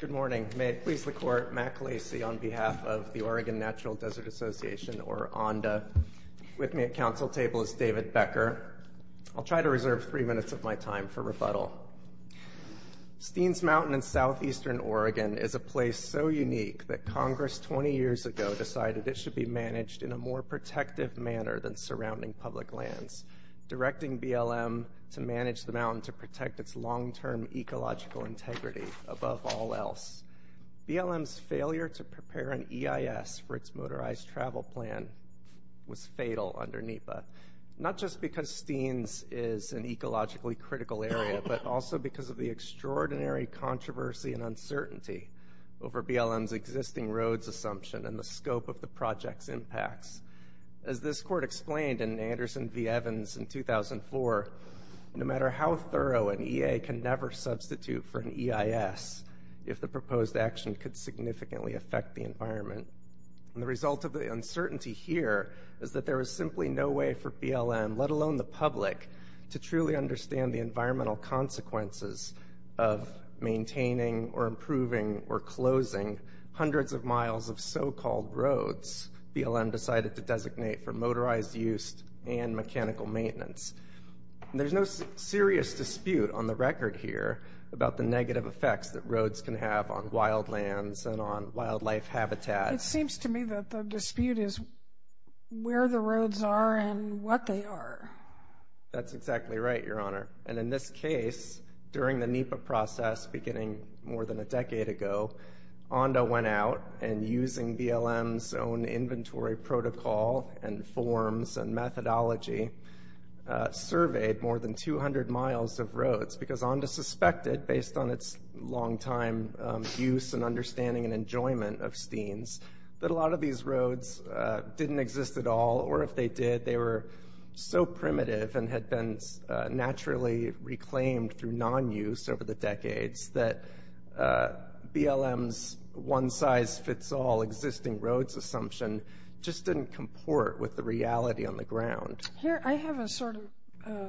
Good morning. May it please the Court, Matt Clasey on behalf of the Oregon Natural Desert Association, or ONDA. With me at council table is David Becker. I'll try to reserve three minutes of my time for rebuttal. Steens Mountain in southeastern Oregon is a place so unique that Congress 20 years ago decided it should be managed in a more protective manner than surrounding public lands, directing BLM to manage the mountain to protect its long-term ecological integrity above all else. BLM's failure to prepare an EIS for its motorized travel plan was fatal under NEPA, not just because Steens is an ecologically critical area, but also because of the extraordinary controversy and uncertainty over BLM's existing roads assumption and the scope of the project's impacts. As this Court explained in Anderson v. Evans in 2004, no matter how thorough, an EA can never substitute for an EIS if the proposed action could significantly affect the environment. And the result of the uncertainty here is that there is simply no way for BLM, let alone the public, to truly understand the environmental consequences of maintaining or improving or closing hundreds of miles of so-called roads BLM decided to designate for motorized use and mechanical maintenance. And there's no serious dispute on the record here about the negative effects that roads can have on wild lands and on wildlife habitat. It seems to me that the dispute is where the roads are and what they are. That's exactly right, Your Honor. And in this case, during the NEPA process beginning more than a decade ago, ONDA went out and, using BLM's own inventory protocol and forms and methodology, surveyed more than 200 miles of roads because ONDA suspected, based on its long-time use and understanding and enjoyment of Steens, that a lot of these roads didn't exist at all, or if they did, they were so primitive and had been naturally reclaimed through non-use over the decades that BLM's one-size-fits-all existing roads assumption just didn't comport with the reality on the ground. Here, I have a sort of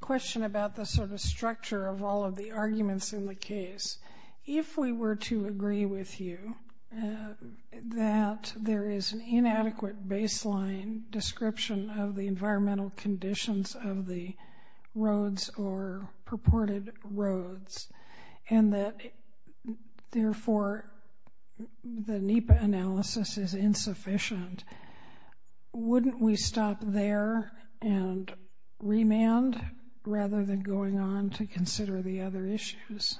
question about the sort of structure of all of the arguments in the case. If we were to agree with you that there is an inadequate baseline description of the environmental conditions of the roads or purported roads and that, therefore, the NEPA analysis is insufficient, wouldn't we stop there and remand rather than going on to consider the other issues?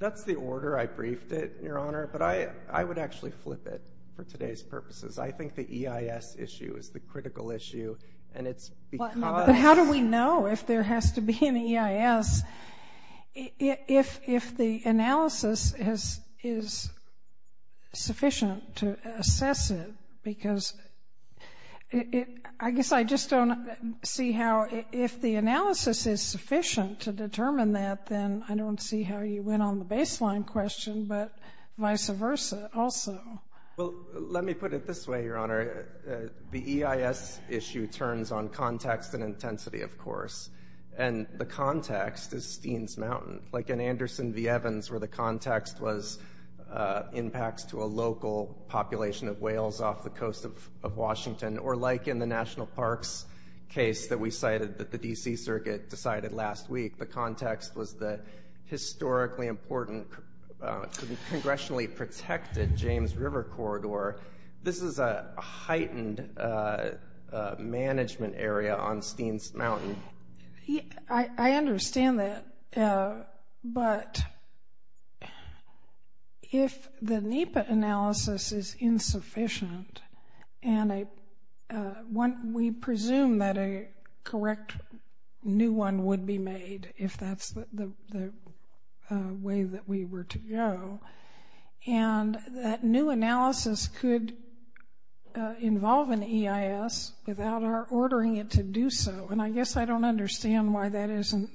That's the order I briefed it, Your Honor, but I would actually flip it for today's purposes. I think the EIS issue is the critical issue, and it's because— But how do we know if there has to be an EIS if the analysis is sufficient to assess it? Because I guess I just don't see how, if the analysis is sufficient to determine that, then I don't see how you went on the baseline question, but vice versa also. Well, let me put it this way, Your Honor. The EIS issue turns on context and intensity, of course, and the context is Steens Mountain. Like in Anderson v. Evans, where the context was impacts to a local population of whales off the coast of Washington, or like in the National Parks case that we cited that the D.C. Circuit decided last week, the context was the historically important, congressionally protected James River corridor. This is a heightened management area on Steens Mountain. I understand that, but if the NEPA analysis is insufficient, and we presume that a correct new one would be made if that's the way that we were to go, and that new analysis could involve an EIS without our ordering it to do so, and I guess I don't understand why that isn't,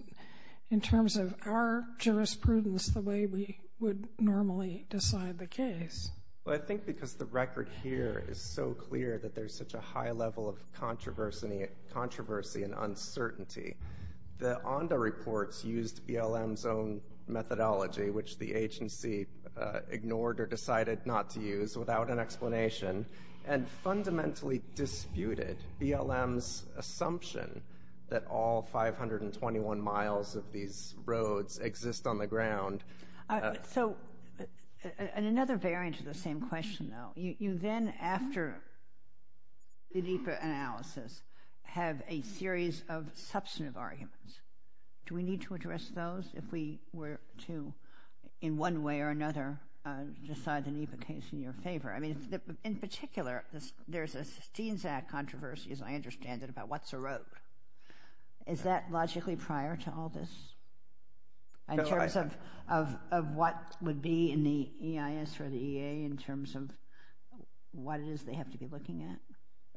in terms of our jurisprudence, the way we would normally decide the case. Well, I think because the record here is so clear that there's such a high level of controversy and uncertainty, the ONDA reports used BLM's own methodology, which the agency ignored or decided not to use without an explanation, and fundamentally disputed BLM's assumption that all 521 miles of these roads exist on the ground. So, and another variant of the same question, though. You then, after the NEPA analysis, have a series of substantive arguments. Do we need to address those if we were to, in one way or another, decide the NEPA case in your favor? I mean, in particular, there's a Steens Act controversy, as I understand it, about what's a road. Is that logically prior to all this? In terms of what would be in the EIS or the EA, in terms of what it is they have to be looking at?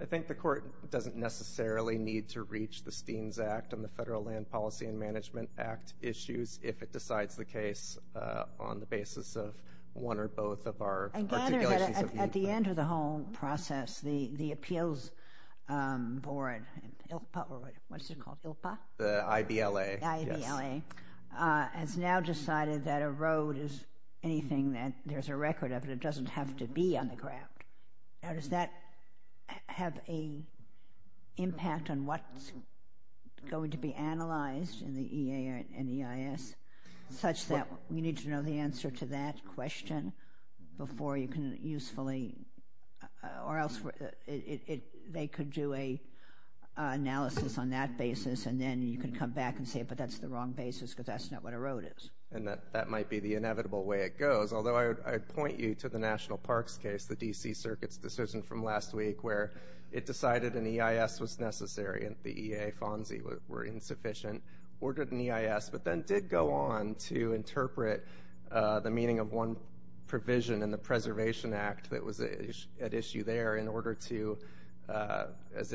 I think the court doesn't necessarily need to reach the Steens Act and the Federal Land Policy and Management Act issues if it decides the case on the basis of one or both of our articulations. At the end of the whole process, the Appeals Board, ILPA, what's it called, ILPA? The IBLA. The IBLA has now decided that a road is anything that there's a record of and it doesn't have to be on the ground. Now, does that have an impact on what's going to be analyzed in the EA and EIS, such that we need to know the answer to that question before you can usefully, or else they could do an analysis on that basis and then you can come back and say, but that's the wrong basis because that's not what a road is. And that might be the inevitable way it goes. Although I would point you to the National Parks case, the D.C. Circuit's decision from last week, where it decided an EIS was necessary and the EA and FONSI were insufficient, ordered an EIS, but then did go on to interpret the meaning of one provision in the Preservation Act that was at issue there in order to, as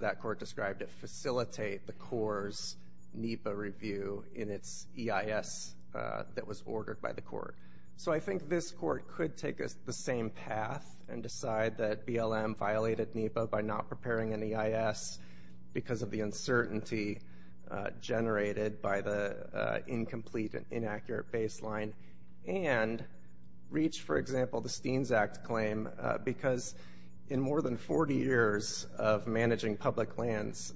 that court described it, facilitate the Corps' NEPA review in its EIS that was ordered by the court. So I think this court could take the same path and decide that BLM violated NEPA by not preparing an EIS because of the uncertainty generated by the incomplete and inaccurate baseline, and reach, for example, the Steens Act claim because in more than 40 years of managing public lands,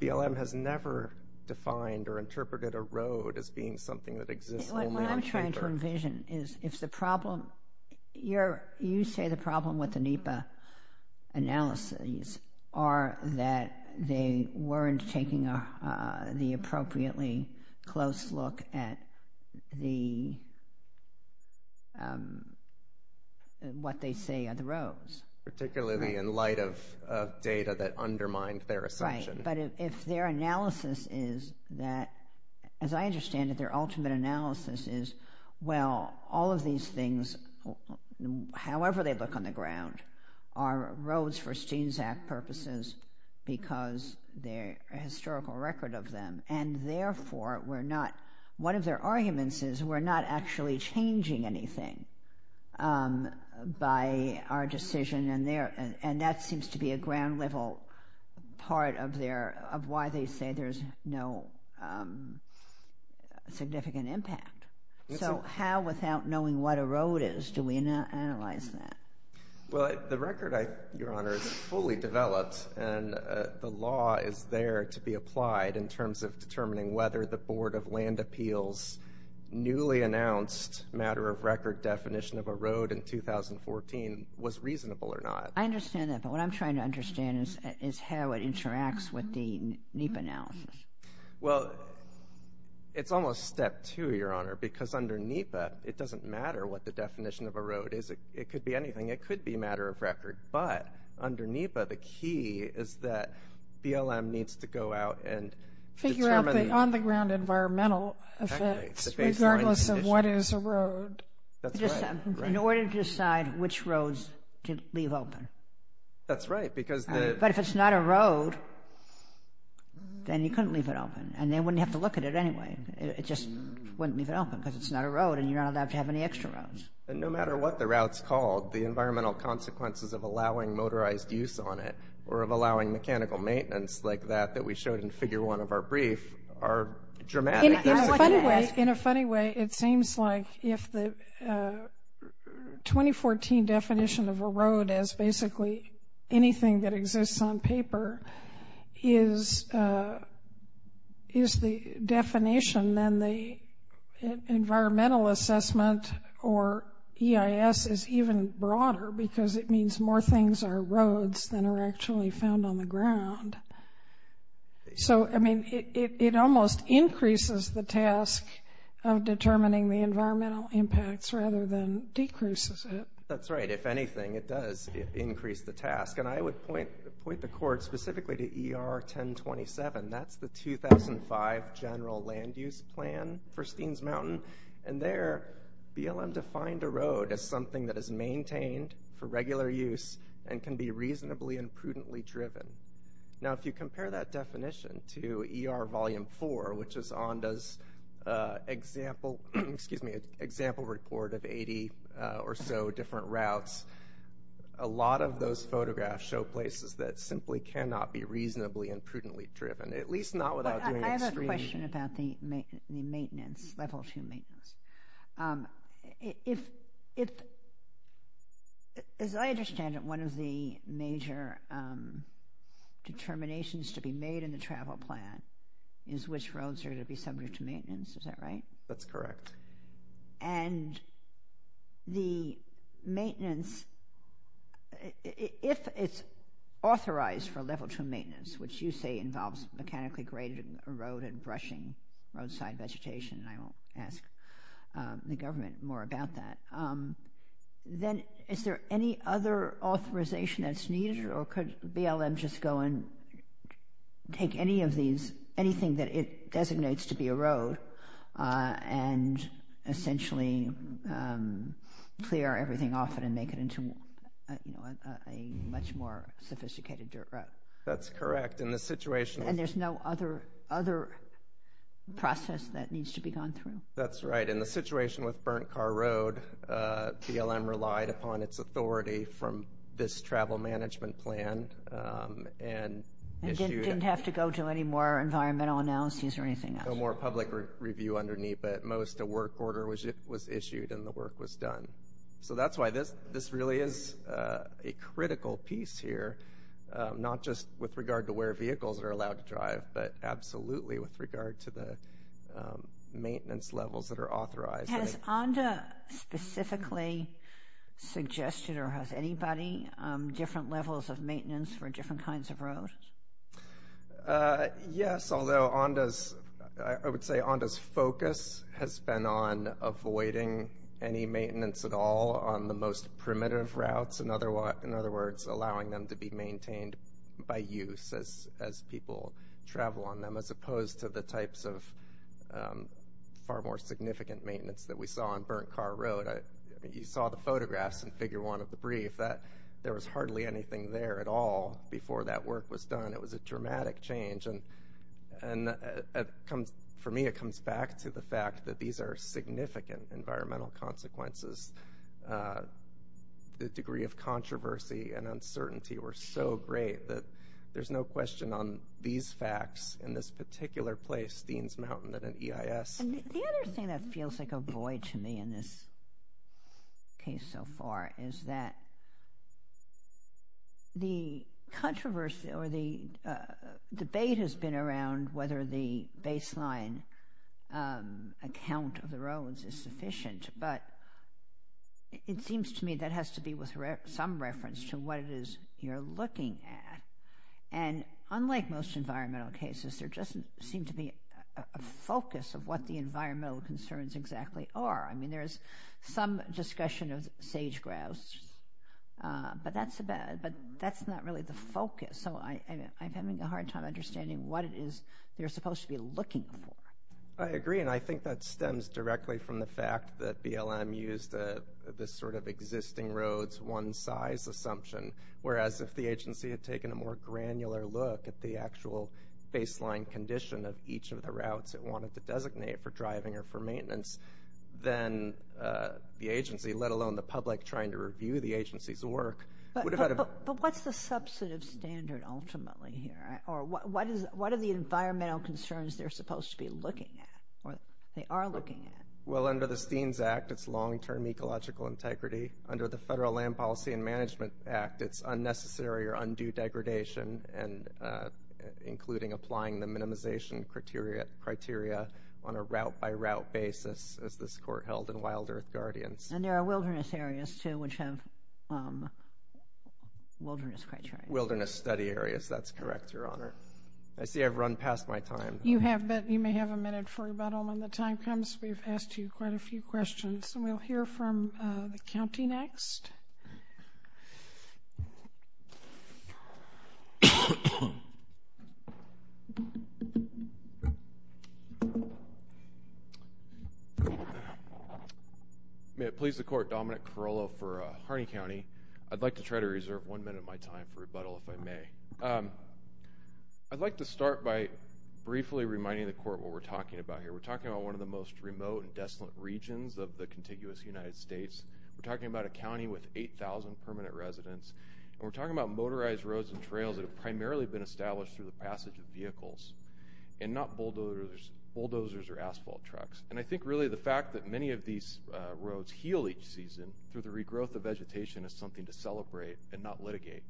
BLM has never defined or interpreted a road as being something that exists only on paper. You say the problem with the NEPA analyses are that they weren't taking the appropriately close look at what they say are the roads. Particularly in light of data that undermined their assumption. But if their analysis is that, as I understand it, their ultimate analysis is, well, all of these things, however they look on the ground, are roads for Steens Act purposes because they're a historical record of them, and therefore we're not, one of their arguments is we're not actually changing anything by our decision, and that seems to be a ground-level part of why they say there's no significant impact. So how, without knowing what a road is, do we analyze that? Well, the record, Your Honor, is fully developed, and the law is there to be applied in terms of determining whether the Board of Land Appeals' newly announced matter-of-record definition of a road in 2014 was reasonable or not. I understand that, but what I'm trying to understand is how it interacts with the NEPA analysis. Well, it's almost step two, Your Honor, because under NEPA it doesn't matter what the definition of a road is. It could be anything. It could be matter-of-record. But under NEPA the key is that BLM needs to go out and determine the on-the-ground environmental effects regardless of what is a road. That's right. In order to decide which roads to leave open. That's right, because the But if it's not a road, then you couldn't leave it open, and they wouldn't have to look at it anyway. It just wouldn't leave it open because it's not a road, and you're not allowed to have any extra roads. And no matter what the route's called, the environmental consequences of allowing motorized use on it or of allowing mechanical maintenance like that that we showed in Figure 1 of our brief are dramatic. In a funny way, it seems like if the 2014 definition of a road is basically anything that exists on paper, is the definition, then the environmental assessment or EIS is even broader because it means more things are roads than are actually found on the ground. So, I mean, it almost increases the task of determining the environmental impacts rather than decreases it. That's right. If anything, it does increase the task. And I would point the court specifically to ER 1027. That's the 2005 General Land Use Plan for Steens Mountain. And there, BLM defined a road as something that is maintained for regular use and can be reasonably and prudently driven. Now, if you compare that definition to ER Volume 4, which is ONDA's example report of 80 or so different routes, a lot of those photographs show places that simply cannot be reasonably and prudently driven, at least not without doing extreme... As I understand it, one of the major determinations to be made in the travel plan is which roads are to be subject to maintenance. Is that right? That's correct. And the maintenance, if it's authorized for Level 2 maintenance, which you say involves mechanically grading a road and brushing roadside vegetation, and I will ask the government more about that, then is there any other authorization that's needed, or could BLM just go and take anything that it designates to be a road and essentially clear everything off and make it into a much more sophisticated dirt road? That's correct. And there's no other process that needs to be gone through? That's right. In the situation with Burnt Car Road, BLM relied upon its authority from this travel management plan and issued... And didn't have to go to any more environmental analyses or anything else? No more public review underneath, but at most a work order was issued and the work was done. So that's why this really is a critical piece here, not just with regard to where vehicles are allowed to drive, but absolutely with regard to the maintenance levels that are authorized. Has ONDA specifically suggested, or has anybody, Yes, although I would say ONDA's focus has been on avoiding any maintenance at all on the most primitive routes, in other words, allowing them to be maintained by use as people travel on them, as opposed to the types of far more significant maintenance that we saw on Burnt Car Road. You saw the photographs in Figure 1 of the brief. There was hardly anything there at all before that work was done. It was a dramatic change. And for me, it comes back to the fact that these are significant environmental consequences. The degree of controversy and uncertainty were so great that there's no question on these facts in this particular place, Steens Mountain, at an EIS. The other thing that feels like a void to me in this case so far is that the controversy or the debate has been around whether the baseline account of the roads is sufficient, but it seems to me that has to be with some reference to what it is you're looking at. And unlike most environmental cases, there doesn't seem to be a focus of what the environmental concerns exactly are. I mean, there is some discussion of sage-grouse, but that's not really the focus. So I'm having a hard time understanding what it is you're supposed to be looking for. I agree, and I think that stems directly from the fact that BLM used this sort of existing roads one size assumption, whereas if the agency had taken a more granular look at the actual baseline condition of each of the routes it wanted to designate for driving or for maintenance, then the agency, let alone the public trying to review the agency's work, would have had a- But what's the substantive standard ultimately here? Or what are the environmental concerns they're supposed to be looking at or they are looking at? Well, under the Steens Act, it's long-term ecological integrity. Under the Federal Land Policy and Management Act, it's unnecessary or undue degradation, including applying the minimization criteria on a route-by-route basis, as this Court held in Wild Earth Guardians. And there are wilderness areas, too, which have wilderness criteria. Wilderness study areas, that's correct, Your Honor. I see I've run past my time. You have, but you may have a minute for rebuttal when the time comes. We've asked you quite a few questions, and we'll hear from the county next. May it please the Court, Dominic Carollo for Harney County. I'd like to try to reserve one minute of my time for rebuttal, if I may. I'd like to start by briefly reminding the Court what we're talking about here. We're talking about one of the most remote and desolate regions of the contiguous United States. We're talking about a county with 8,000 permanent residents. And we're talking about motorized roads and trails that have primarily been established through the passage of vehicles, and not bulldozers or asphalt trucks. And I think really the fact that many of these roads heal each season through the regrowth of vegetation is something to celebrate and not litigate.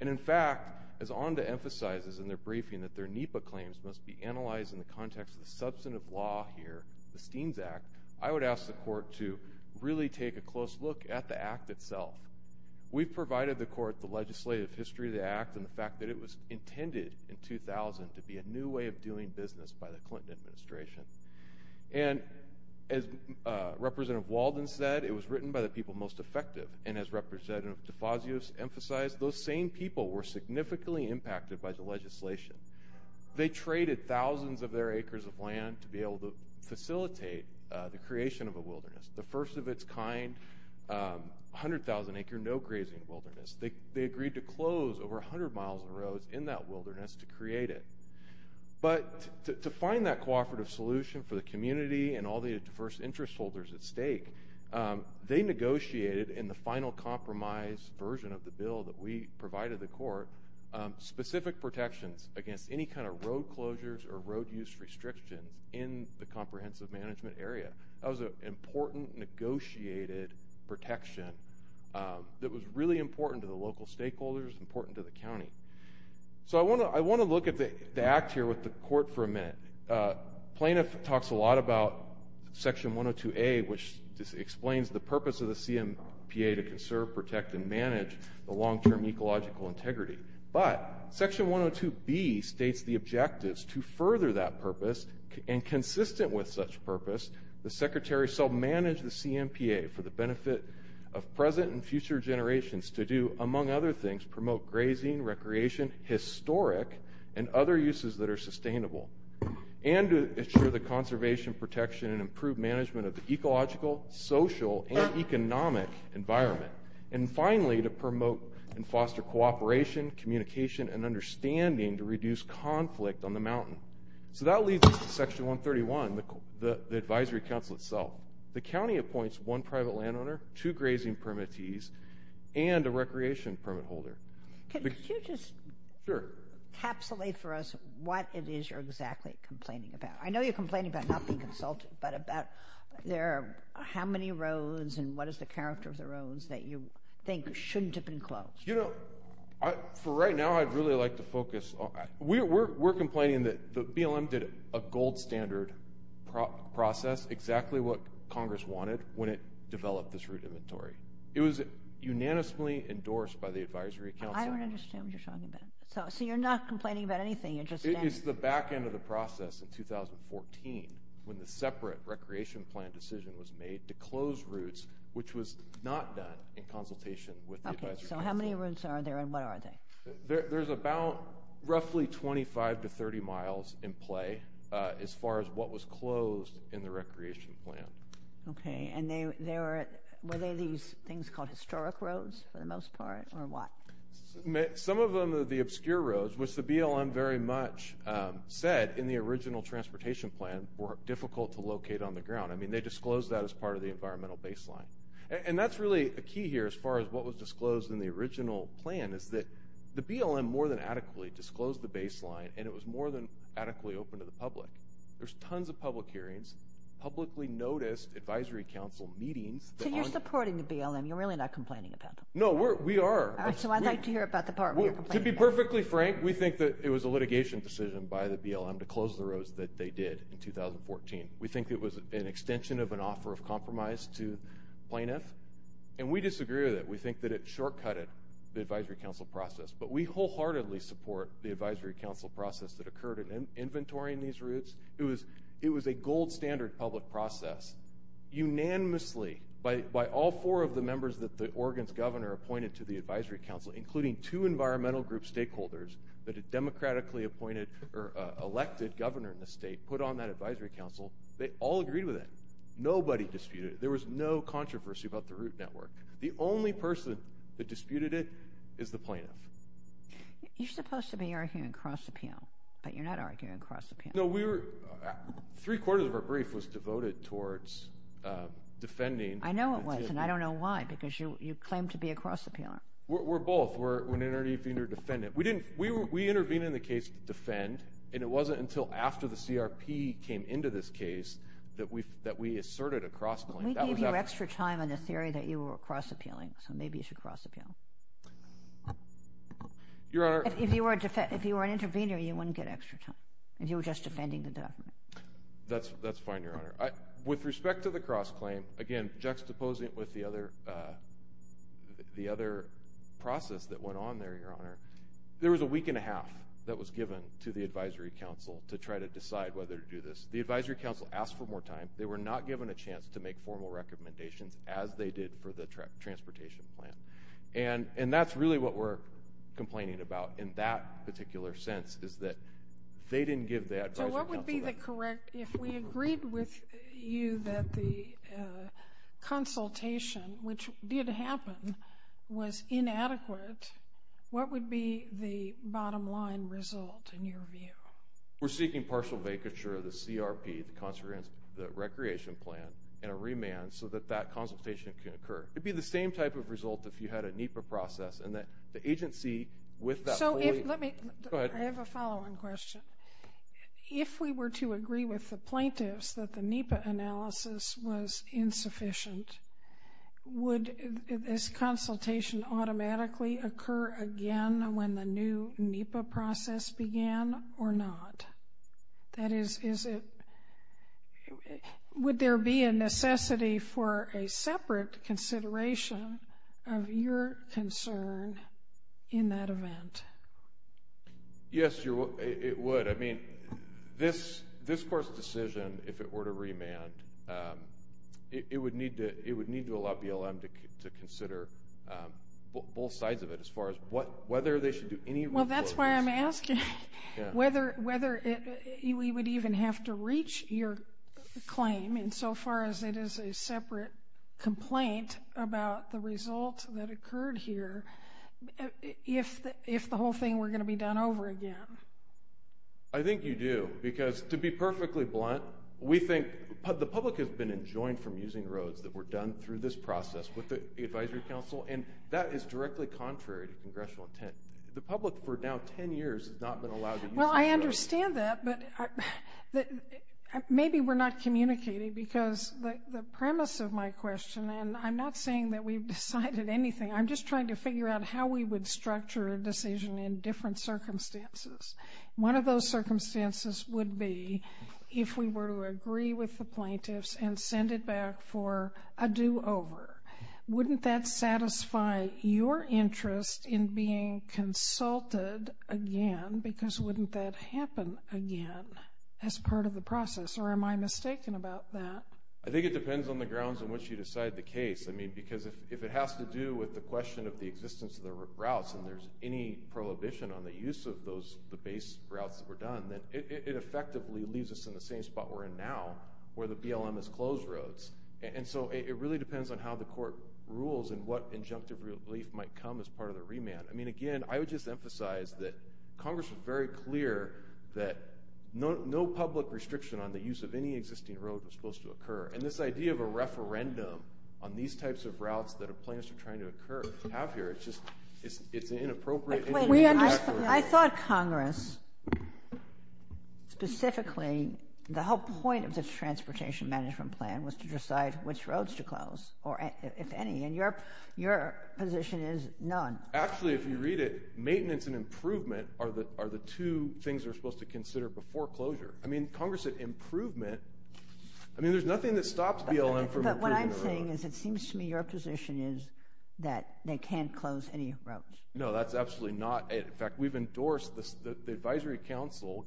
And, in fact, as ONDA emphasizes in their briefing that their NEPA claims must be analyzed in the context of the substantive law here, the Steens Act, I would ask the Court to really take a close look at the Act itself. We've provided the Court the legislative history of the Act and the fact that it was intended in 2000 to be a new way of doing business by the Clinton administration. And as Representative Walden said, it was written by the people most effective. And as Representative DeFazio emphasized, those same people were significantly impacted by the legislation. They traded thousands of their acres of land to be able to facilitate the creation of a wilderness, the first of its kind, 100,000-acre no-grazing wilderness. They agreed to close over 100 miles of roads in that wilderness to create it. But to find that cooperative solution for the community and all the diverse interest holders at stake, they negotiated in the final compromise version of the bill that we provided the Court specific protections against any kind of road closures or road use restrictions in the comprehensive management area. That was an important negotiated protection that was really important to the local stakeholders, important to the county. So I want to look at the Act here with the Court for a minute. Plaintiff talks a lot about Section 102A, which explains the purpose of the CMPA to conserve, protect, and manage the long-term ecological integrity. But Section 102B states the objectives to further that purpose, and consistent with such purpose, the Secretary shall manage the CMPA for the benefit of present and future generations to do, among other things, promote grazing, recreation, historic, and other uses that are sustainable, and to ensure the conservation, protection, and improved management of the ecological, social, and economic environment. And finally, to promote and foster cooperation, communication, and understanding to reduce conflict on the mountain. So that leads us to Section 131, the Advisory Council itself. The county appoints one private landowner, two grazing permittees, and a recreation permit holder. Could you just capsulate for us what it is you're exactly complaining about? I know you're complaining about not being consulted, but about how many roads and what is the character of the roads that you think shouldn't have been closed. You know, for right now, I'd really like to focus on – we're complaining that the BLM did a gold standard process, exactly what Congress wanted when it developed this route inventory. It was unanimously endorsed by the Advisory Council. I don't understand what you're talking about. So you're not complaining about anything. It's the back end of the process in 2014, when the separate recreation plan decision was made to close routes, which was not done in consultation with the Advisory Council. Okay. So how many routes are there and what are they? There's about roughly 25 to 30 miles in play as far as what was closed in the recreation plan. Okay. And were they these things called historic roads for the most part, or what? Some of them are the obscure roads, which the BLM very much said in the original transportation plan were difficult to locate on the ground. I mean, they disclosed that as part of the environmental baseline. And that's really a key here as far as what was disclosed in the original plan, is that the BLM more than adequately disclosed the baseline, and it was more than adequately open to the public. There's tons of public hearings, publicly noticed Advisory Council meetings. So you're supporting the BLM. You're really not complaining about them. No, we are. All right. So I'd like to hear about the part where you're complaining. To be perfectly frank, we think that it was a litigation decision by the BLM to close the roads that they did in 2014. We think it was an extension of an offer of compromise to plaintiffs. And we disagree with it. We think that it shortcutted the Advisory Council process. But we wholeheartedly support the Advisory Council process that occurred in inventorying these routes. It was a gold standard public process. Unanimously, by all four of the members that the Oregon's governor appointed to the Advisory Council, including two environmental group stakeholders that a democratically appointed or elected governor in the state put on that Advisory Council, they all agreed with it. Nobody disputed it. There was no controversy about the route network. The only person that disputed it is the plaintiff. You're supposed to be arguing cross-appeal, but you're not arguing cross-appeal. No, three-quarters of our brief was devoted towards defending. I know it was, and I don't know why, because you claim to be a cross-appealer. We're both. We're an intervener defendant. We intervened in the case to defend, and it wasn't until after the CRP came into this case that we asserted a cross-claim. We gave you extra time on the theory that you were cross-appealing, so maybe you should cross-appeal. Your Honor— If you were an intervener, you wouldn't get extra time. If you were just defending the document. That's fine, Your Honor. With respect to the cross-claim, again juxtaposing it with the other process that went on there, Your Honor, there was a week and a half that was given to the Advisory Council to try to decide whether to do this. The Advisory Council asked for more time. They were not given a chance to make formal recommendations as they did for the transportation plan, and that's really what we're complaining about in that particular sense is that they didn't give the Advisory Council— So what would be the correct—if we agreed with you that the consultation, which did happen, was inadequate, what would be the bottom line result in your view? We're seeking partial vacature of the CRP, the recreation plan, and a remand so that that consultation can occur. It would be the same type of result if you had a NEPA process and the agency with that wholly— So if—let me— Go ahead. I have a following question. If we were to agree with the plaintiffs that the NEPA analysis was insufficient, would this consultation automatically occur again when the new NEPA process began or not? That is, is it—would there be a necessity for a separate consideration of your concern in that event? Yes, it would. I mean, this court's decision, if it were to remand, it would need to allow BLM to consider both sides of it as far as whether they should do any— Well, that's why I'm asking whether we would even have to reach your claim insofar as it is a separate complaint about the result that occurred here if the whole thing were going to be done over again. I think you do, because to be perfectly blunt, we think—the public has been enjoined from using roads that were done through this process with the advisory council, and that is directly contrary to congressional intent. The public, for now 10 years, has not been allowed to use roads. Well, I understand that, but maybe we're not communicating because the premise of my question—and I'm not saying that we've decided anything. I'm just trying to figure out how we would structure a decision in different circumstances. One of those circumstances would be if we were to agree with the plaintiffs and send it back for a do-over. Wouldn't that satisfy your interest in being consulted again? Because wouldn't that happen again as part of the process? Or am I mistaken about that? I think it depends on the grounds on which you decide the case. I mean, because if it has to do with the question of the existence of the routes and there's any prohibition on the use of the base routes that were done, then it effectively leaves us in the same spot we're in now where the BLM has closed roads. And so it really depends on how the court rules and what injunctive relief might come as part of the remand. I mean, again, I would just emphasize that Congress was very clear that no public restriction on the use of any existing roads was supposed to occur. And this idea of a referendum on these types of routes that the plaintiffs are trying to have here, it's just—it's inappropriate. I thought Congress, specifically, the whole point of the Transportation Management Plan was to decide which roads to close, if any. And your position is none. Actually, if you read it, maintenance and improvement are the two things we're supposed to consider before closure. I mean, Congress said improvement. I mean, there's nothing that stops BLM from improving the roads. But what I'm saying is it seems to me your position is that they can't close any roads. No, that's absolutely not. In fact, we've endorsed—the Advisory Council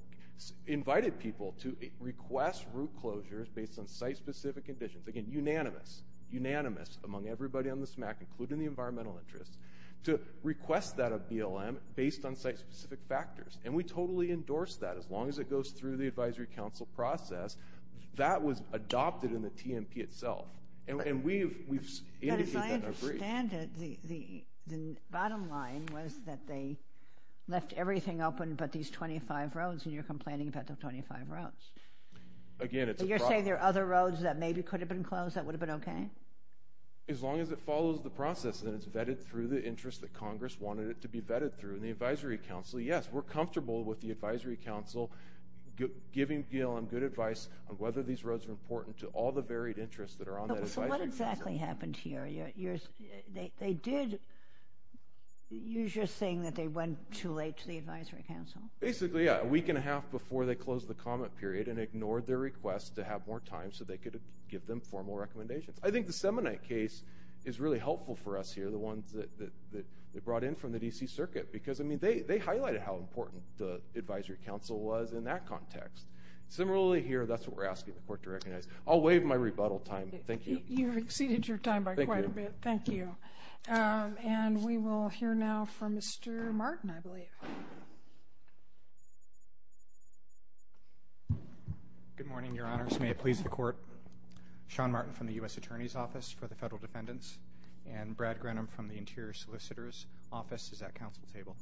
invited people to request route closures based on site-specific conditions. Again, unanimous, unanimous among everybody on this MAC, including the environmental interests, to request that of BLM based on site-specific factors. And we totally endorse that. As long as it goes through the Advisory Council process, that was adopted in the TMP itself. And we've indicated that and agreed. As I understand it, the bottom line was that they left everything open but these 25 roads, and you're complaining about the 25 roads. Again, it's a problem. So you're saying there are other roads that maybe could have been closed that would have been okay? As long as it follows the process and it's vetted through the interests that Congress wanted it to be vetted through in the Advisory Council, yes. We're comfortable with the Advisory Council giving BLM good advice on whether these roads are important to all the varied interests that are on that Advisory Council. What exactly happened here? They did—you're just saying that they went too late to the Advisory Council. Basically, yeah. A week and a half before they closed the comment period and ignored their request to have more time so they could give them formal recommendations. I think the Semonite case is really helpful for us here, the ones that they brought in from the D.C. Circuit. Because, I mean, they highlighted how important the Advisory Council was in that context. I'll waive my rebuttal time. Thank you. You've exceeded your time by quite a bit. Thank you. Thank you. And we will hear now from Mr. Martin, I believe. Good morning, Your Honors. May it please the Court. Sean Martin from the U.S. Attorney's Office for the Federal Defendants and Brad Grenham from the Interior Solicitor's Office is at Council table.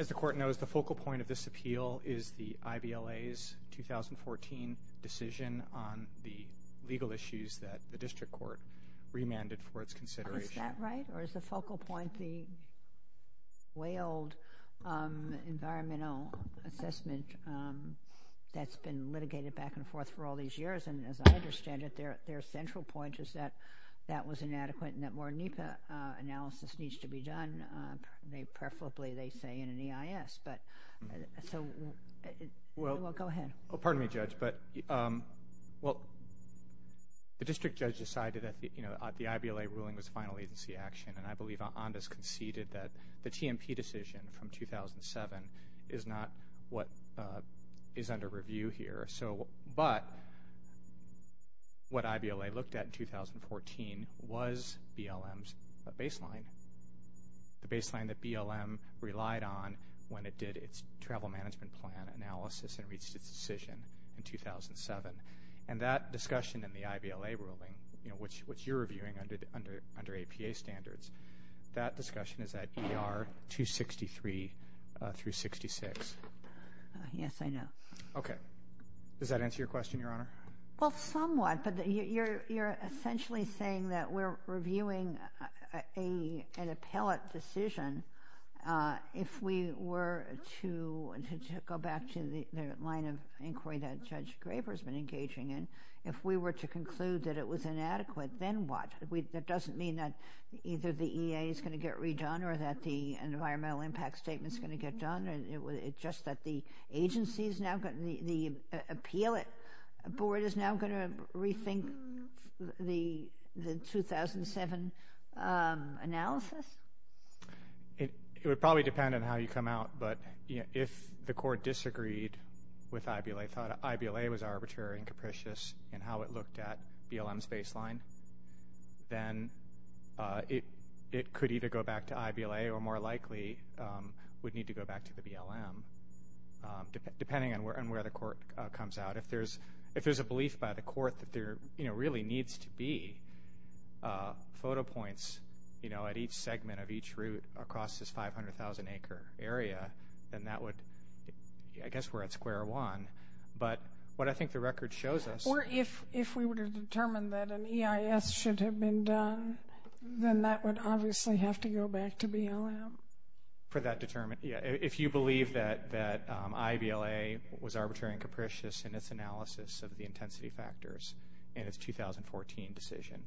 As the Court knows, the focal point of this appeal is the IVLA's 2014 decision on the legal issues that the District Court remanded for its consideration. Is that right? Or is the focal point the way old environmental assessment that's been litigated back and forth for all these years? And as I understand it, their central point is that that was inadequate and that more NEPA analysis needs to be done, preferably, they say, in an EIS. Well, go ahead. Pardon me, Judge, but the District Judge decided that the IVLA ruling was final agency action, and I believe Onda's conceded that the TMP decision from 2007 is not what is under review here. But what IVLA looked at in 2014 was BLM's baseline, the baseline that BLM relied on when it did its travel management plan analysis and reached its decision in 2007. And that discussion in the IVLA ruling, which you're reviewing under APA standards, that discussion is at ER 263 through 66. Yes, I know. Okay. Does that answer your question, Your Honor? Well, somewhat, but you're essentially saying that we're reviewing an appellate decision. If we were to go back to the line of inquiry that Judge Graber has been engaging in, if we were to conclude that it was inadequate, then what? That doesn't mean that either the EA is going to get redone or that the environmental impact statement is going to get done. It's just that the appeal board is now going to rethink the 2007 analysis? It would probably depend on how you come out. But if the Court disagreed with IVLA, thought IVLA was arbitrary and capricious in how it looked at BLM's baseline, then it could either go back to IVLA or more likely would need to go back to the BLM, depending on where the Court comes out. If there's a belief by the Court that there really needs to be photo points, you know, at each segment of each route across this 500,000-acre area, then that would – I guess we're at square one. But what I think the record shows us – Or if we were to determine that an EIS should have been done, then that would obviously have to go back to BLM. For that determination. Yeah, if you believe that IVLA was arbitrary and capricious in its analysis of the intensity factors in its 2014 decision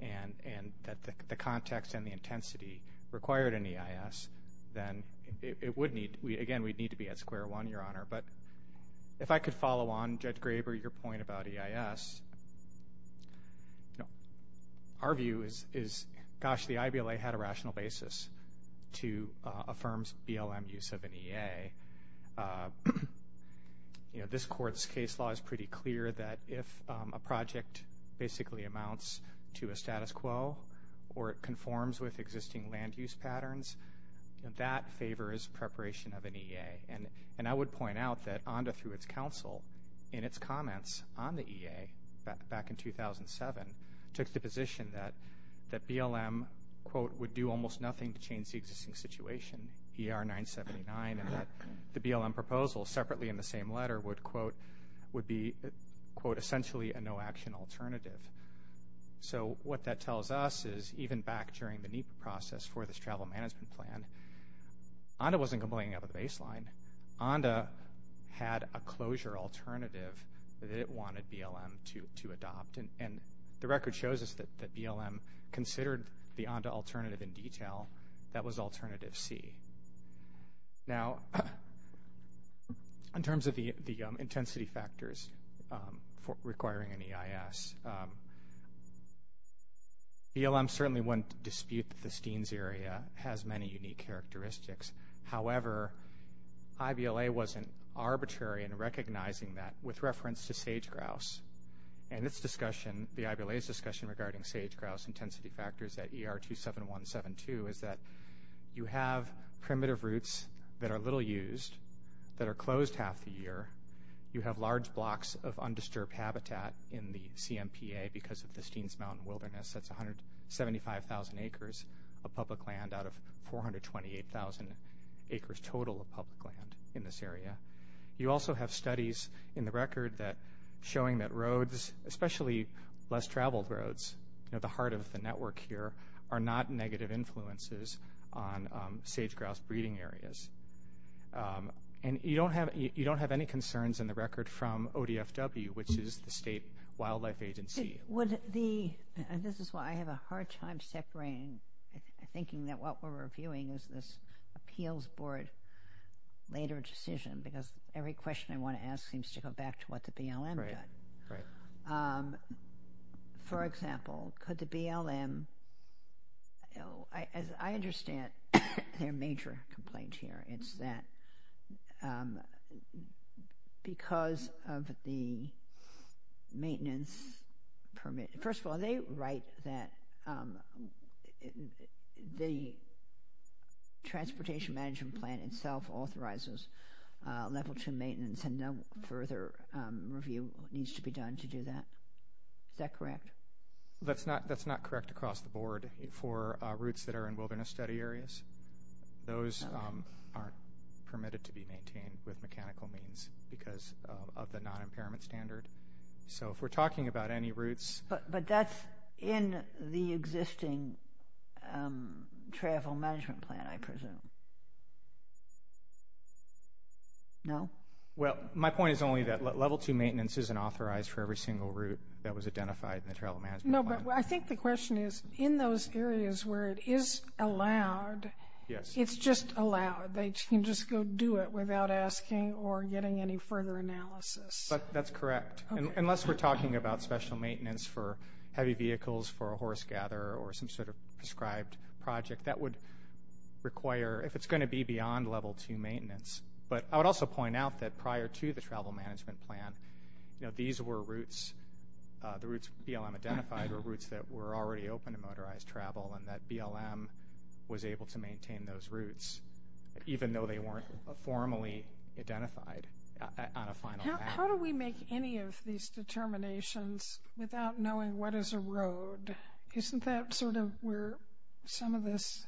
and that the context and the intensity required an EIS, then it would need – again, we'd need to be at square one, Your Honor. But if I could follow on, Judge Graber, your point about EIS, our view is, gosh, the IVLA had a rational basis to affirm BLM use of an EA. You know, this Court's case law is pretty clear that if a project basically amounts to a status quo or it conforms with existing land use patterns, that favors preparation of an EA. And I would point out that ONDA, through its counsel, in its comments on the EA back in 2007, took the position that BLM, quote, would do almost nothing to change the existing situation, ER-979, and that the BLM proposal separately in the same letter would, quote, be, quote, essentially a no-action alternative. So what that tells us is even back during the NEPA process for this travel management plan, ONDA wasn't complaining about the baseline. ONDA had a closure alternative that it wanted BLM to adopt. And the record shows us that BLM considered the ONDA alternative in detail. That was alternative C. Now, in terms of the intensity factors requiring an EIS, BLM certainly wouldn't dispute that the Steens area has many unique characteristics. However, IVLA wasn't arbitrary in recognizing that with reference to sage-grouse. And its discussion, the IVLA's discussion regarding sage-grouse intensity factors at ER-27172, is that you have primitive roots that are little used that are closed half the year. You have large blocks of undisturbed habitat in the CMPA because of the Steens Mountain Wilderness. That's 175,000 acres of public land out of 428,000 acres total of public land in this area. You also have studies in the record showing that roads, especially less-traveled roads, at the heart of the network here, are not negative influences on sage-grouse breeding areas. And you don't have any concerns in the record from ODFW, which is the state wildlife agency. This is why I have a hard time separating, thinking that what we're reviewing is this appeals board later decision because every question I want to ask seems to go back to what the BLM did. For example, could the BLM, as I understand their major complaint here, it's that because of the maintenance permit. First of all, they write that the transportation management plan itself authorizes level 2 maintenance and no further review needs to be done to do that. Is that correct? That's not correct across the board for routes that are in wilderness study areas. Those aren't permitted to be maintained with mechanical means because of the non-impairment standard. So if we're talking about any routes... But that's in the existing travel management plan, I presume. No? Well, my point is only that level 2 maintenance isn't authorized for every single route that was identified in the travel management plan. No, but I think the question is, in those areas where it is allowed, it's just allowed. They can just go do it without asking or getting any further analysis. That's correct. Unless we're talking about special maintenance for heavy vehicles for a horse gatherer or some sort of prescribed project, that would require, if it's going to be beyond level 2 maintenance. But I would also point out that prior to the travel management plan, these were routes, the routes BLM identified were routes that were already open to motorized travel and that BLM was able to maintain those routes, even though they weren't formally identified on a final map. How do we make any of these determinations without knowing what is a road? Isn't that sort of where some of this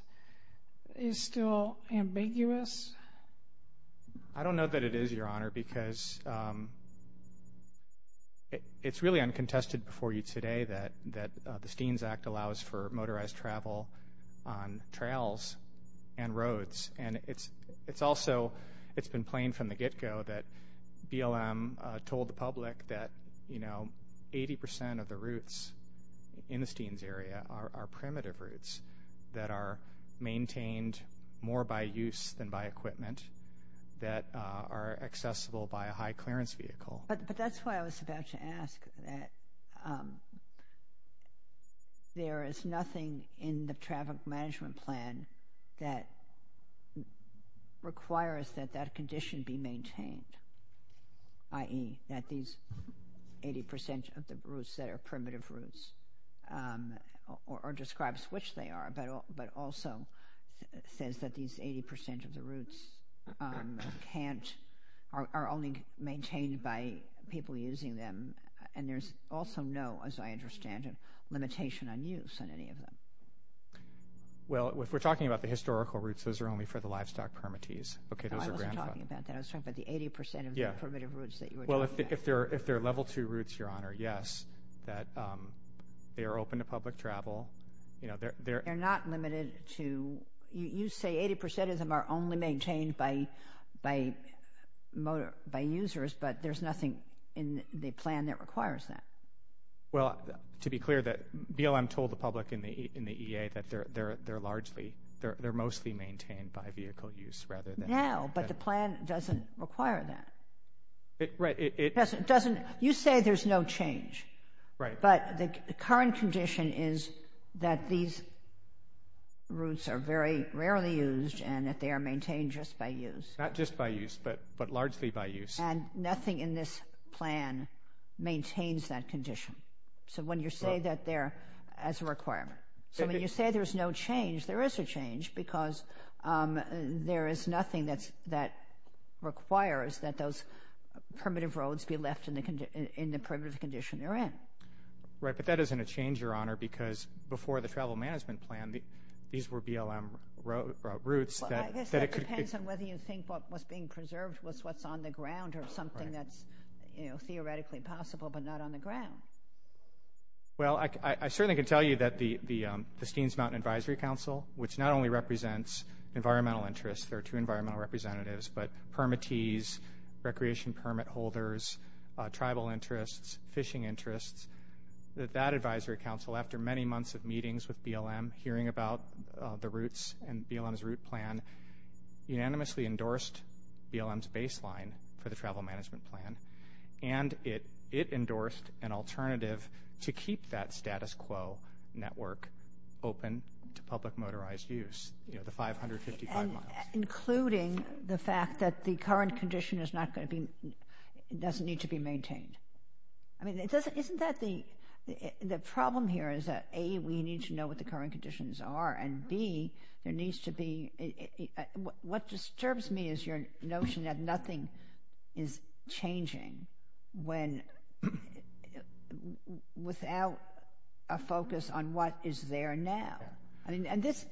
is still ambiguous? I don't know that it is, Your Honor, because it's really uncontested before you today that the Steens Act allows for motorized travel on trails and roads. And it's also been plain from the get-go that BLM told the public that, you know, 80% of the routes in the Steens area are primitive routes that are maintained more by use than by equipment that are accessible by a high-clearance vehicle. But that's why I was about to ask that there is nothing in the traffic management plan that requires that that condition be maintained, i.e., that these 80% of the routes that are primitive routes, or describes which they are, but also says that these 80% of the routes can't, are only maintained by people using them, and there's also no, as I understand it, limitation on use on any of them. Well, if we're talking about the historical routes, those are only for the livestock permittees. No, I wasn't talking about that. I was talking about the 80% of the primitive routes that you were talking about. Well, if they're level-two routes, Your Honor, yes, that they are open to public travel. They're not limited to, you say 80% of them are only maintained by users, but there's nothing in the plan that requires that. Well, to be clear, BLM told the public in the EA that they're largely, they're mostly maintained by vehicle use rather than— Now, but the plan doesn't require that. Right, it— It doesn't, you say there's no change, but the current condition is that these routes are very rarely used and that they are maintained just by use. Not just by use, but largely by use. And nothing in this plan maintains that condition. So when you say that they're as a requirement. So when you say there's no change, there is a change because there is nothing that requires that those primitive roads be left in the primitive condition they're in. Right, but that isn't a change, Your Honor, because before the travel management plan, these were BLM routes that— Well, I guess that depends on whether you think what was being preserved was what's on the ground or something that's, you know, theoretically possible, but not on the ground. Well, I certainly can tell you that the Steens Mountain Advisory Council, which not only represents environmental interests, there are two environmental representatives, but permittees, recreation permit holders, tribal interests, fishing interests, that that advisory council, after many months of meetings with BLM, hearing about the routes and BLM's route plan, unanimously endorsed BLM's baseline for the travel management plan, and it endorsed an alternative to keep that status quo network open to public motorized use, you know, the 555 miles. Including the fact that the current condition is not going to be— doesn't need to be maintained. I mean, isn't that the—the problem here is that, A, we need to know what the current conditions are, and, B, there needs to be— What disturbs me is your notion that nothing is changing when—without a focus on what is there now. I mean, and this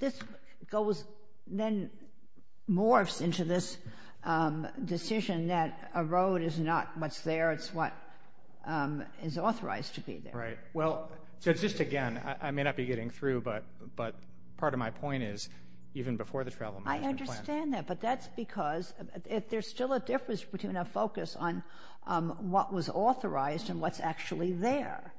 goes—then morphs into this decision that a road is not what's there, it's what is authorized to be there. Right. Well, just again, I may not be getting through, but part of my point is, even before the travel management plan— I understand that, but that's because there's still a difference between a focus on what was authorized and what's actually there.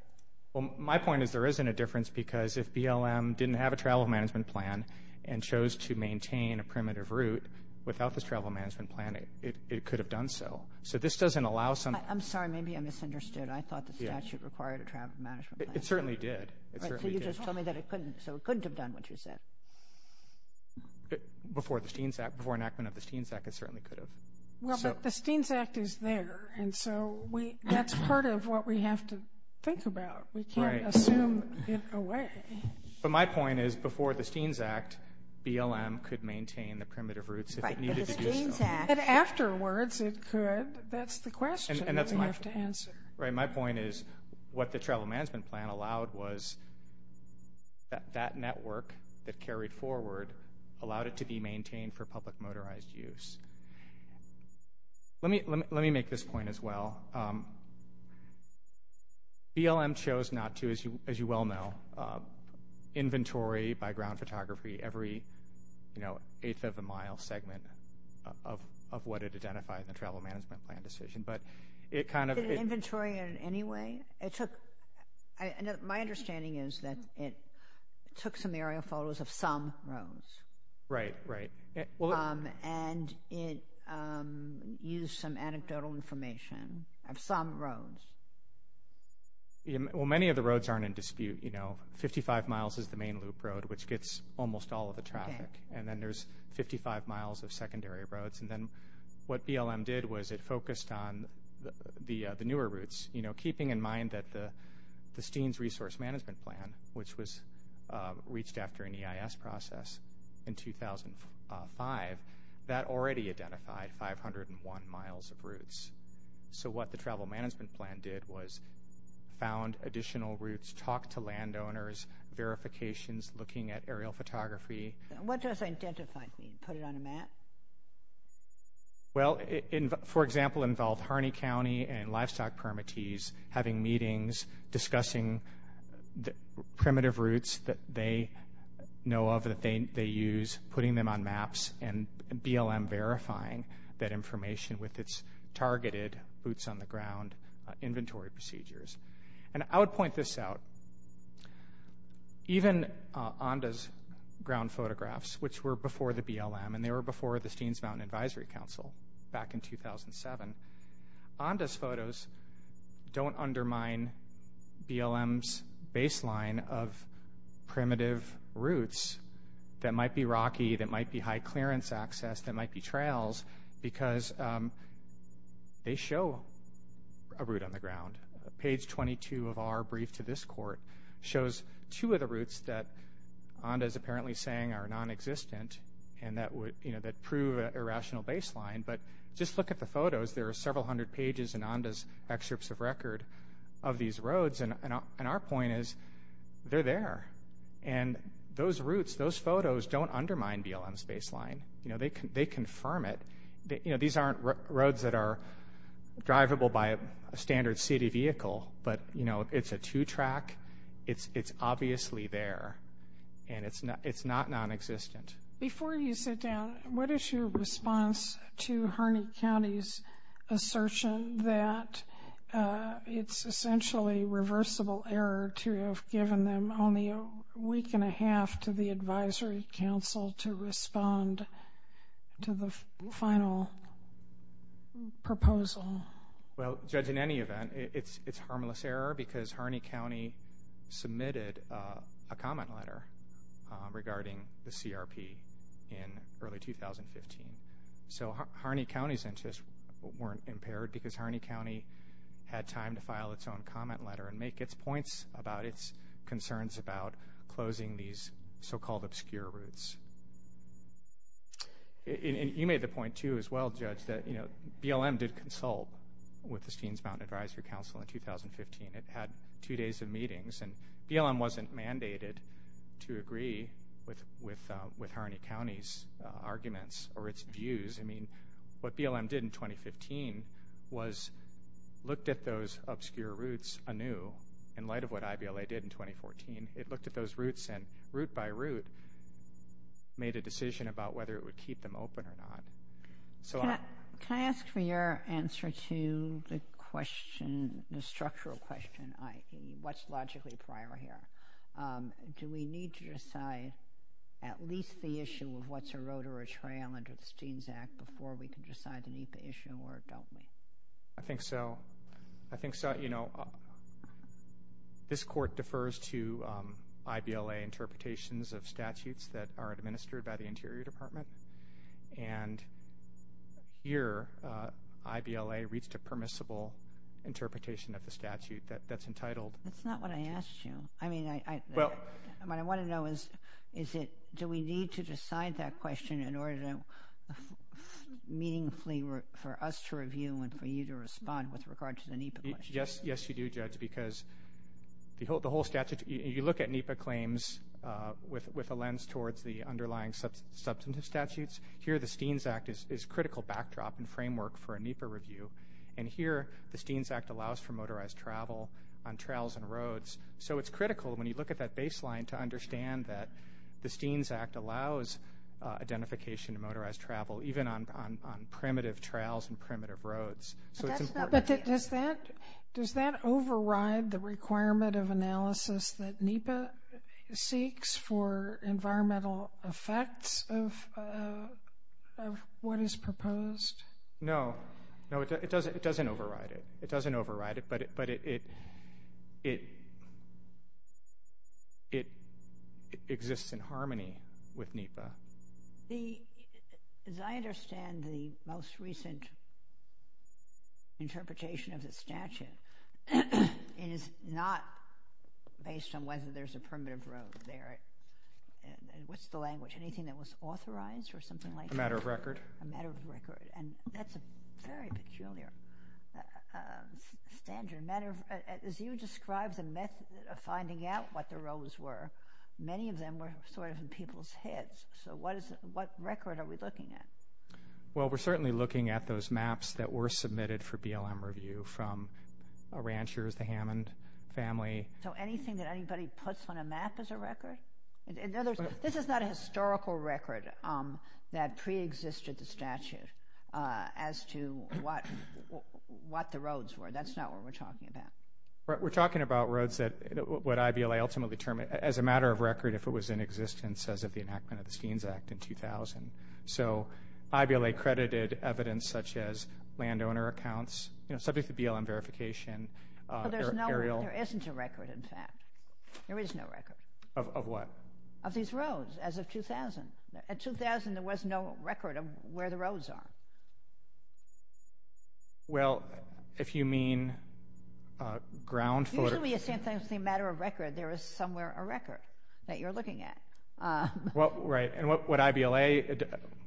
Well, my point is there isn't a difference, because if BLM didn't have a travel management plan and chose to maintain a primitive route without this travel management plan, it could have done so. So this doesn't allow some— I'm sorry, maybe I misunderstood. I thought the statute required a travel management plan. It certainly did. It certainly did. You told me that it couldn't, so it couldn't have done what you said. Before the Steens Act, before enactment of the Steens Act, it certainly could have. Well, but the Steens Act is there, and so that's part of what we have to think about. We can't assume it away. But my point is, before the Steens Act, BLM could maintain the primitive routes if it needed to do so. But the Steens Act— Right, my point is what the travel management plan allowed was that network that carried forward allowed it to be maintained for public motorized use. Let me make this point as well. BLM chose not to, as you well know, inventory by ground photography every eighth of a mile segment of what it identified in the travel management plan decision. But it kind of— Did it inventory it in any way? My understanding is that it took some aerial photos of some roads. Right, right. And it used some anecdotal information of some roads. Well, many of the roads aren't in dispute. You know, 55 miles is the main loop road, which gets almost all of the traffic. And then there's 55 miles of secondary roads. And then what BLM did was it focused on the newer routes, keeping in mind that the Steens Resource Management Plan, which was reached after an EIS process in 2005, that already identified 501 miles of routes. So what the travel management plan did was found additional routes, talked to landowners, verifications, looking at aerial photography. What does identified mean? Put it on a map? Well, for example, it involved Harney County and livestock permittees having meetings, discussing primitive routes that they know of that they use, putting them on maps, and BLM verifying that information with its targeted boots-on-the-ground inventory procedures. And I would point this out. Even ONDA's ground photographs, which were before the BLM, and they were before the Steens Mountain Advisory Council back in 2007, ONDA's photos don't undermine BLM's baseline of primitive routes that might be rocky, that might be high-clearance access, that might be trails, because they show a route on the ground. And page 22 of our brief to this court shows two of the routes that ONDA is apparently saying are nonexistent and that prove an irrational baseline. But just look at the photos. There are several hundred pages in ONDA's excerpts of record of these roads, and our point is they're there. And those routes, those photos don't undermine BLM's baseline. They confirm it. These aren't roads that are drivable by a standard city vehicle, but it's a two-track. It's obviously there, and it's not nonexistent. Before you sit down, what is your response to Harney County's assertion that it's essentially reversible error to have given them only a week and a half to the advisory council to respond to the final proposal? Well, Judge, in any event, it's harmless error because Harney County submitted a comment letter regarding the CRP in early 2015. So Harney County's interests weren't impaired because Harney County had time to file its own comment letter and make its points about its concerns about closing these so-called obscure routes. You made the point too as well, Judge, that BLM did consult with the Steens Mountain Advisory Council in 2015. It had two days of meetings, and BLM wasn't mandated to agree with Harney County's arguments or its views. I mean, what BLM did in 2015 was looked at those obscure routes anew. In light of what IBLA did in 2014, it looked at those routes and, route by route, made a decision about whether it would keep them open or not. Can I ask for your answer to the structural question, i.e., what's logically prior here? Do we need to decide at least the issue of what's a road or a trail under the Steens Act before we can decide to meet the issue, or don't we? I think so. This Court defers to IBLA interpretations of statutes that are administered by the Interior Department. And here, IBLA reached a permissible interpretation of the statute that's entitled— That's not what I asked you. What I want to know is do we need to decide that question in order to meaningfully for us to review and for you to respond with regard to the NEPA question? Yes, you do, Judge, because you look at NEPA claims with a lens towards the underlying substantive statutes. Here, the Steens Act is a critical backdrop and framework for a NEPA review. And here, the Steens Act allows for motorized travel on trails and roads. So it's critical when you look at that baseline to understand that the Steens Act allows identification of motorized travel even on primitive trails and primitive roads. But does that override the requirement of analysis that NEPA seeks for environmental effects of what is proposed? No, it doesn't override it. It doesn't override it, but it exists in harmony with NEPA. As I understand, the most recent interpretation of the statute is not based on whether there's a primitive road there. What's the language? Anything that was authorized or something like that? A matter of record. A matter of record. And that's a very peculiar standard. As you described the method of finding out what the roads were, many of them were sort of in people's heads. So what record are we looking at? Well, we're certainly looking at those maps that were submitted for BLM review from ranchers, the Hammond family. This is not a historical record that preexisted the statute as to what the roads were. That's not what we're talking about. We're talking about roads that what IBLA ultimately termed as a matter of record if it was in existence as of the enactment of the Steens Act in 2000. So IBLA credited evidence such as landowner accounts, you know, subject to BLM verification. There isn't a record, in fact. There is no record. Of what? Of these roads as of 2000. In 2000, there was no record of where the roads are. Well, if you mean ground photos. Usually you say it's a matter of record. There is somewhere a record that you're looking at. Well, right. And what IBLA,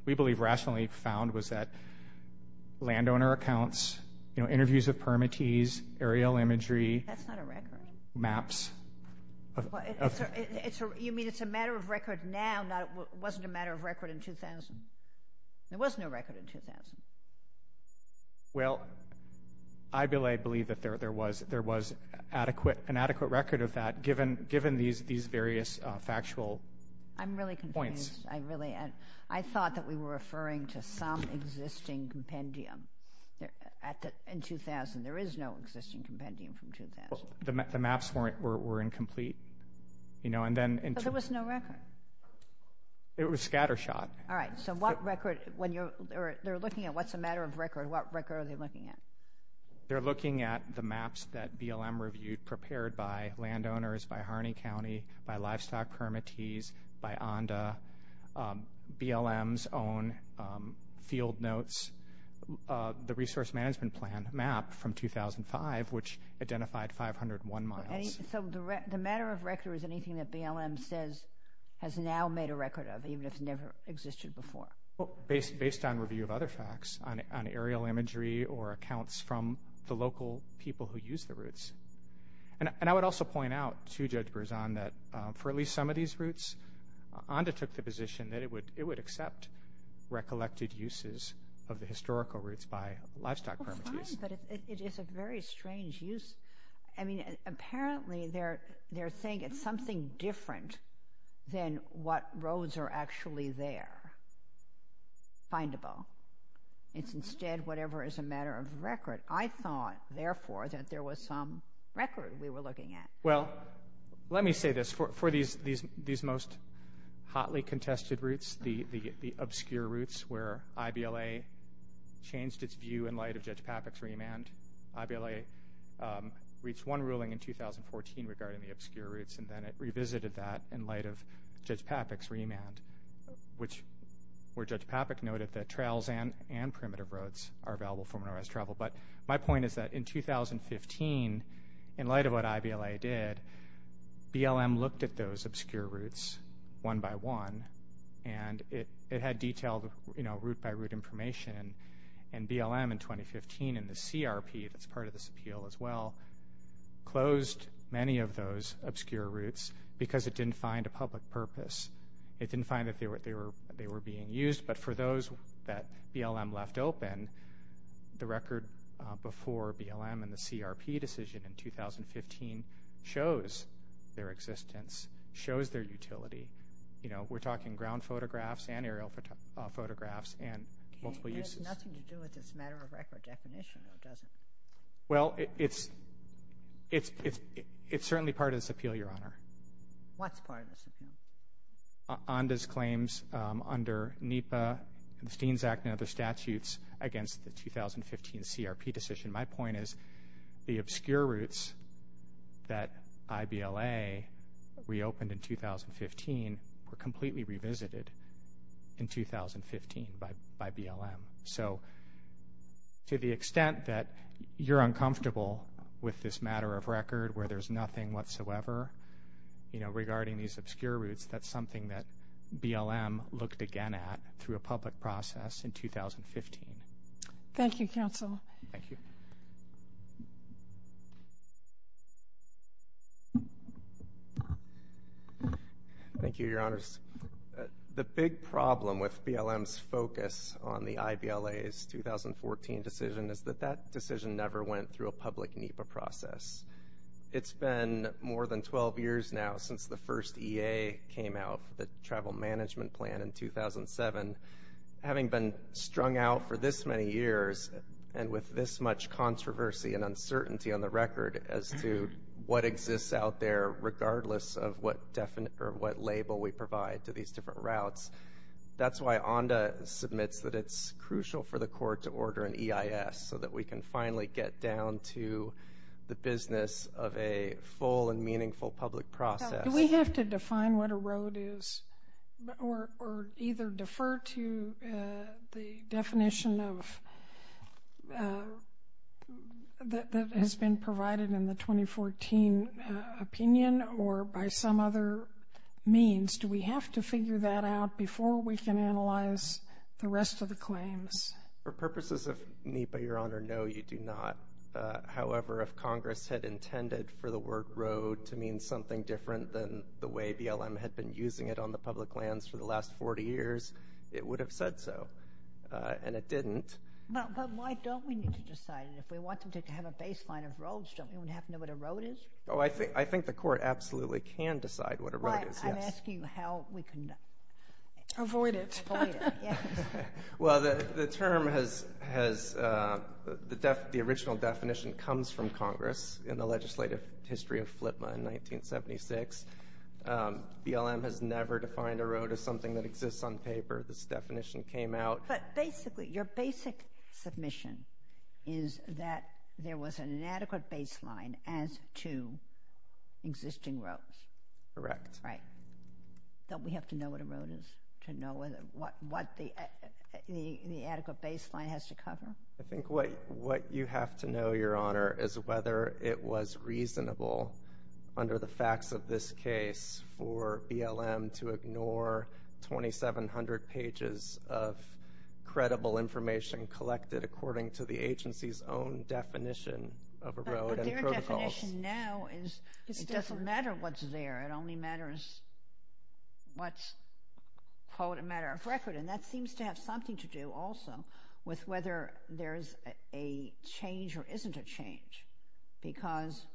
we believe, rationally found was that landowner accounts, you know, interviews of permittees, aerial imagery. That's not a record. Maps. You mean it's a matter of record now. It wasn't a matter of record in 2000. There was no record in 2000. Well, IBLA believed that there was an adequate record of that given these various factual points. I'm really confused. I thought that we were referring to some existing compendium in 2000. There is no existing compendium from 2000. The maps were incomplete. But there was no record. It was scatter shot. All right. So what record? They're looking at what's a matter of record. What record are they looking at? They're looking at the maps that BLM reviewed prepared by landowners, by Harney County, by livestock permittees, by ONDA, BLM's own field notes, the resource management plan map from 2005, which identified 501 miles. So the matter of record is anything that BLM says has now made a record of, even if it never existed before? Well, based on review of other facts, on aerial imagery or accounts from the local people who use the routes. And I would also point out to Judge Berzon that for at least some of these routes, ONDA took the position that it would accept recollected uses of the historical routes by livestock permittees. Well, fine, but it is a very strange use. I mean, apparently they're saying it's something different than what roads are actually there, findable. It's instead whatever is a matter of record. I thought, therefore, that there was some record we were looking at. Well, let me say this. For these most hotly contested routes, the obscure routes where IBLA changed its view in light of Judge Papik's remand, IBLA reached one ruling in 2014 regarding the obscure routes, and then it revisited that in light of Judge Papik's remand, where Judge Papik noted that trails and primitive roads are available for minorized travel. But my point is that in 2015, in light of what IBLA did, BLM looked at those obscure routes one by one, and it had detailed route-by-route information. And BLM in 2015 in the CRP, that's part of this appeal as well, closed many of those obscure routes because it didn't find a public purpose. It didn't find that they were being used, but for those that BLM left open, the record before BLM and the CRP decision in 2015 shows their existence, shows their utility. We're talking ground photographs and aerial photographs and multiple uses. It has nothing to do with this matter of record definition, though, does it? Well, it's certainly part of this appeal, Your Honor. What's part of this appeal? Onda's claims under NEPA and the Steens Act and other statutes against the 2015 CRP decision. My point is the obscure routes that IBLA reopened in 2015 were completely revisited in 2015 by BLM. So to the extent that you're uncomfortable with this matter of record where there's nothing whatsoever, you know, it's that something that BLM looked again at through a public process in 2015. Thank you, counsel. Thank you. Thank you, Your Honors. The big problem with BLM's focus on the IBLA's 2014 decision is that that decision never went through a public NEPA process. It's been more than 12 years now since the first EA came out for the travel management plan in 2007. Having been strung out for this many years and with this much controversy and uncertainty on the record as to what exists out there regardless of what label we provide to these different routes, that's why Onda submits that it's crucial for the full and meaningful public process. Do we have to define what a road is or either defer to the definition that has been provided in the 2014 opinion or by some other means? Do we have to figure that out before we can analyze the rest of the claims? For purposes of NEPA, Your Honor, no, you do not. However, if Congress had intended for the word road to mean something different than the way BLM had been using it on the public lands for the last 40 years, it would have said so, and it didn't. But why don't we need to decide it? If we want them to have a baseline of roads, don't we want to have to know what a road is? Oh, I think the Court absolutely can decide what a road is, yes. I'm asking how we can avoid it. Avoid it, yes. Well, the term has, the original definition comes from Congress in the legislative history of FLPMA in 1976. BLM has never defined a road as something that exists on paper. This definition came out. But basically, your basic submission is that there was an inadequate baseline as to existing roads. Correct. Right. Don't we have to know what a road is to know what the adequate baseline has to cover? I think what you have to know, Your Honor, is whether it was reasonable under the facts of this case for BLM to ignore 2,700 pages of credible information collected according to the agency's own definition of a road and protocols. Their definition now is it doesn't matter what's there. It only matters what's, quote, a matter of record. And that seems to have something to do also with whether there's a change or isn't a change. Because,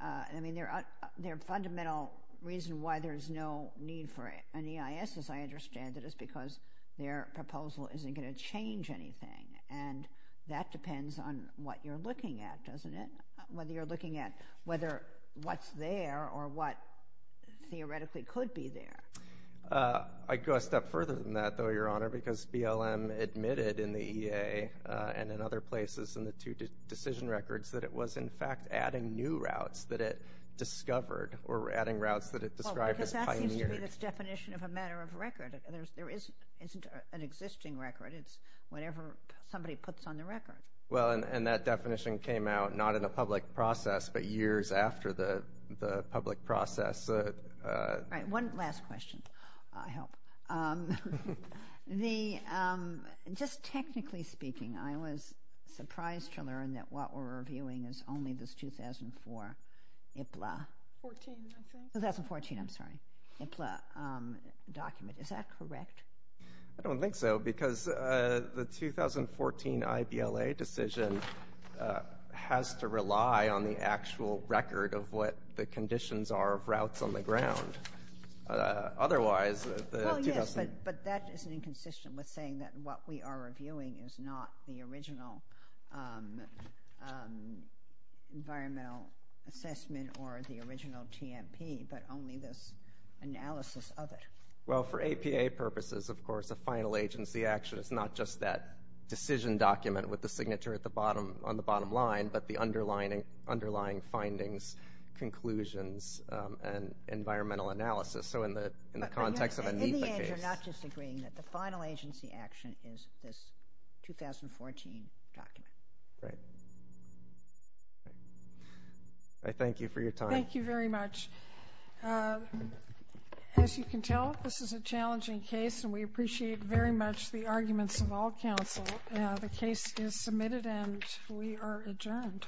I mean, their fundamental reason why there's no need for an EIS, as I understand it, is because their proposal isn't going to change anything. And that depends on what you're looking at, doesn't it? Whether you're looking at whether what's there or what theoretically could be there. I'd go a step further than that, though, Your Honor, because BLM admitted in the EA and in other places in the two decision records that it was, in fact, adding new routes that it discovered or adding routes that it described as pioneered. Well, because that seems to be this definition of a matter of record. There isn't an existing record. It's whenever somebody puts on the record. Well, and that definition came out not in a public process but years after the public process. All right. One last question, I hope. Just technically speaking, I was surprised to learn that what we're reviewing is only this 2004 IPLA. 2014, I think. 2014, I'm sorry, IPLA document. Is that correct? I don't think so, because the 2014 IPLA decision has to rely on the actual record of what the conditions are of routes on the ground. Otherwise, the 2014 IPLA. Well, yes, but that is inconsistent with saying that what we are reviewing is not the original environmental assessment or the original TMP but only this analysis of it. Well, for APA purposes, of course, a final agency action is not just that decision document with the signature on the bottom line but the underlying findings, conclusions, and environmental analysis. So in the context of a NEPA case. In the end, you're not disagreeing that the final agency action is this 2014 document. Right. I thank you for your time. Thank you very much. As you can tell, this is a challenging case, and we appreciate very much the arguments of all counsel. The case is submitted, and we are adjourned.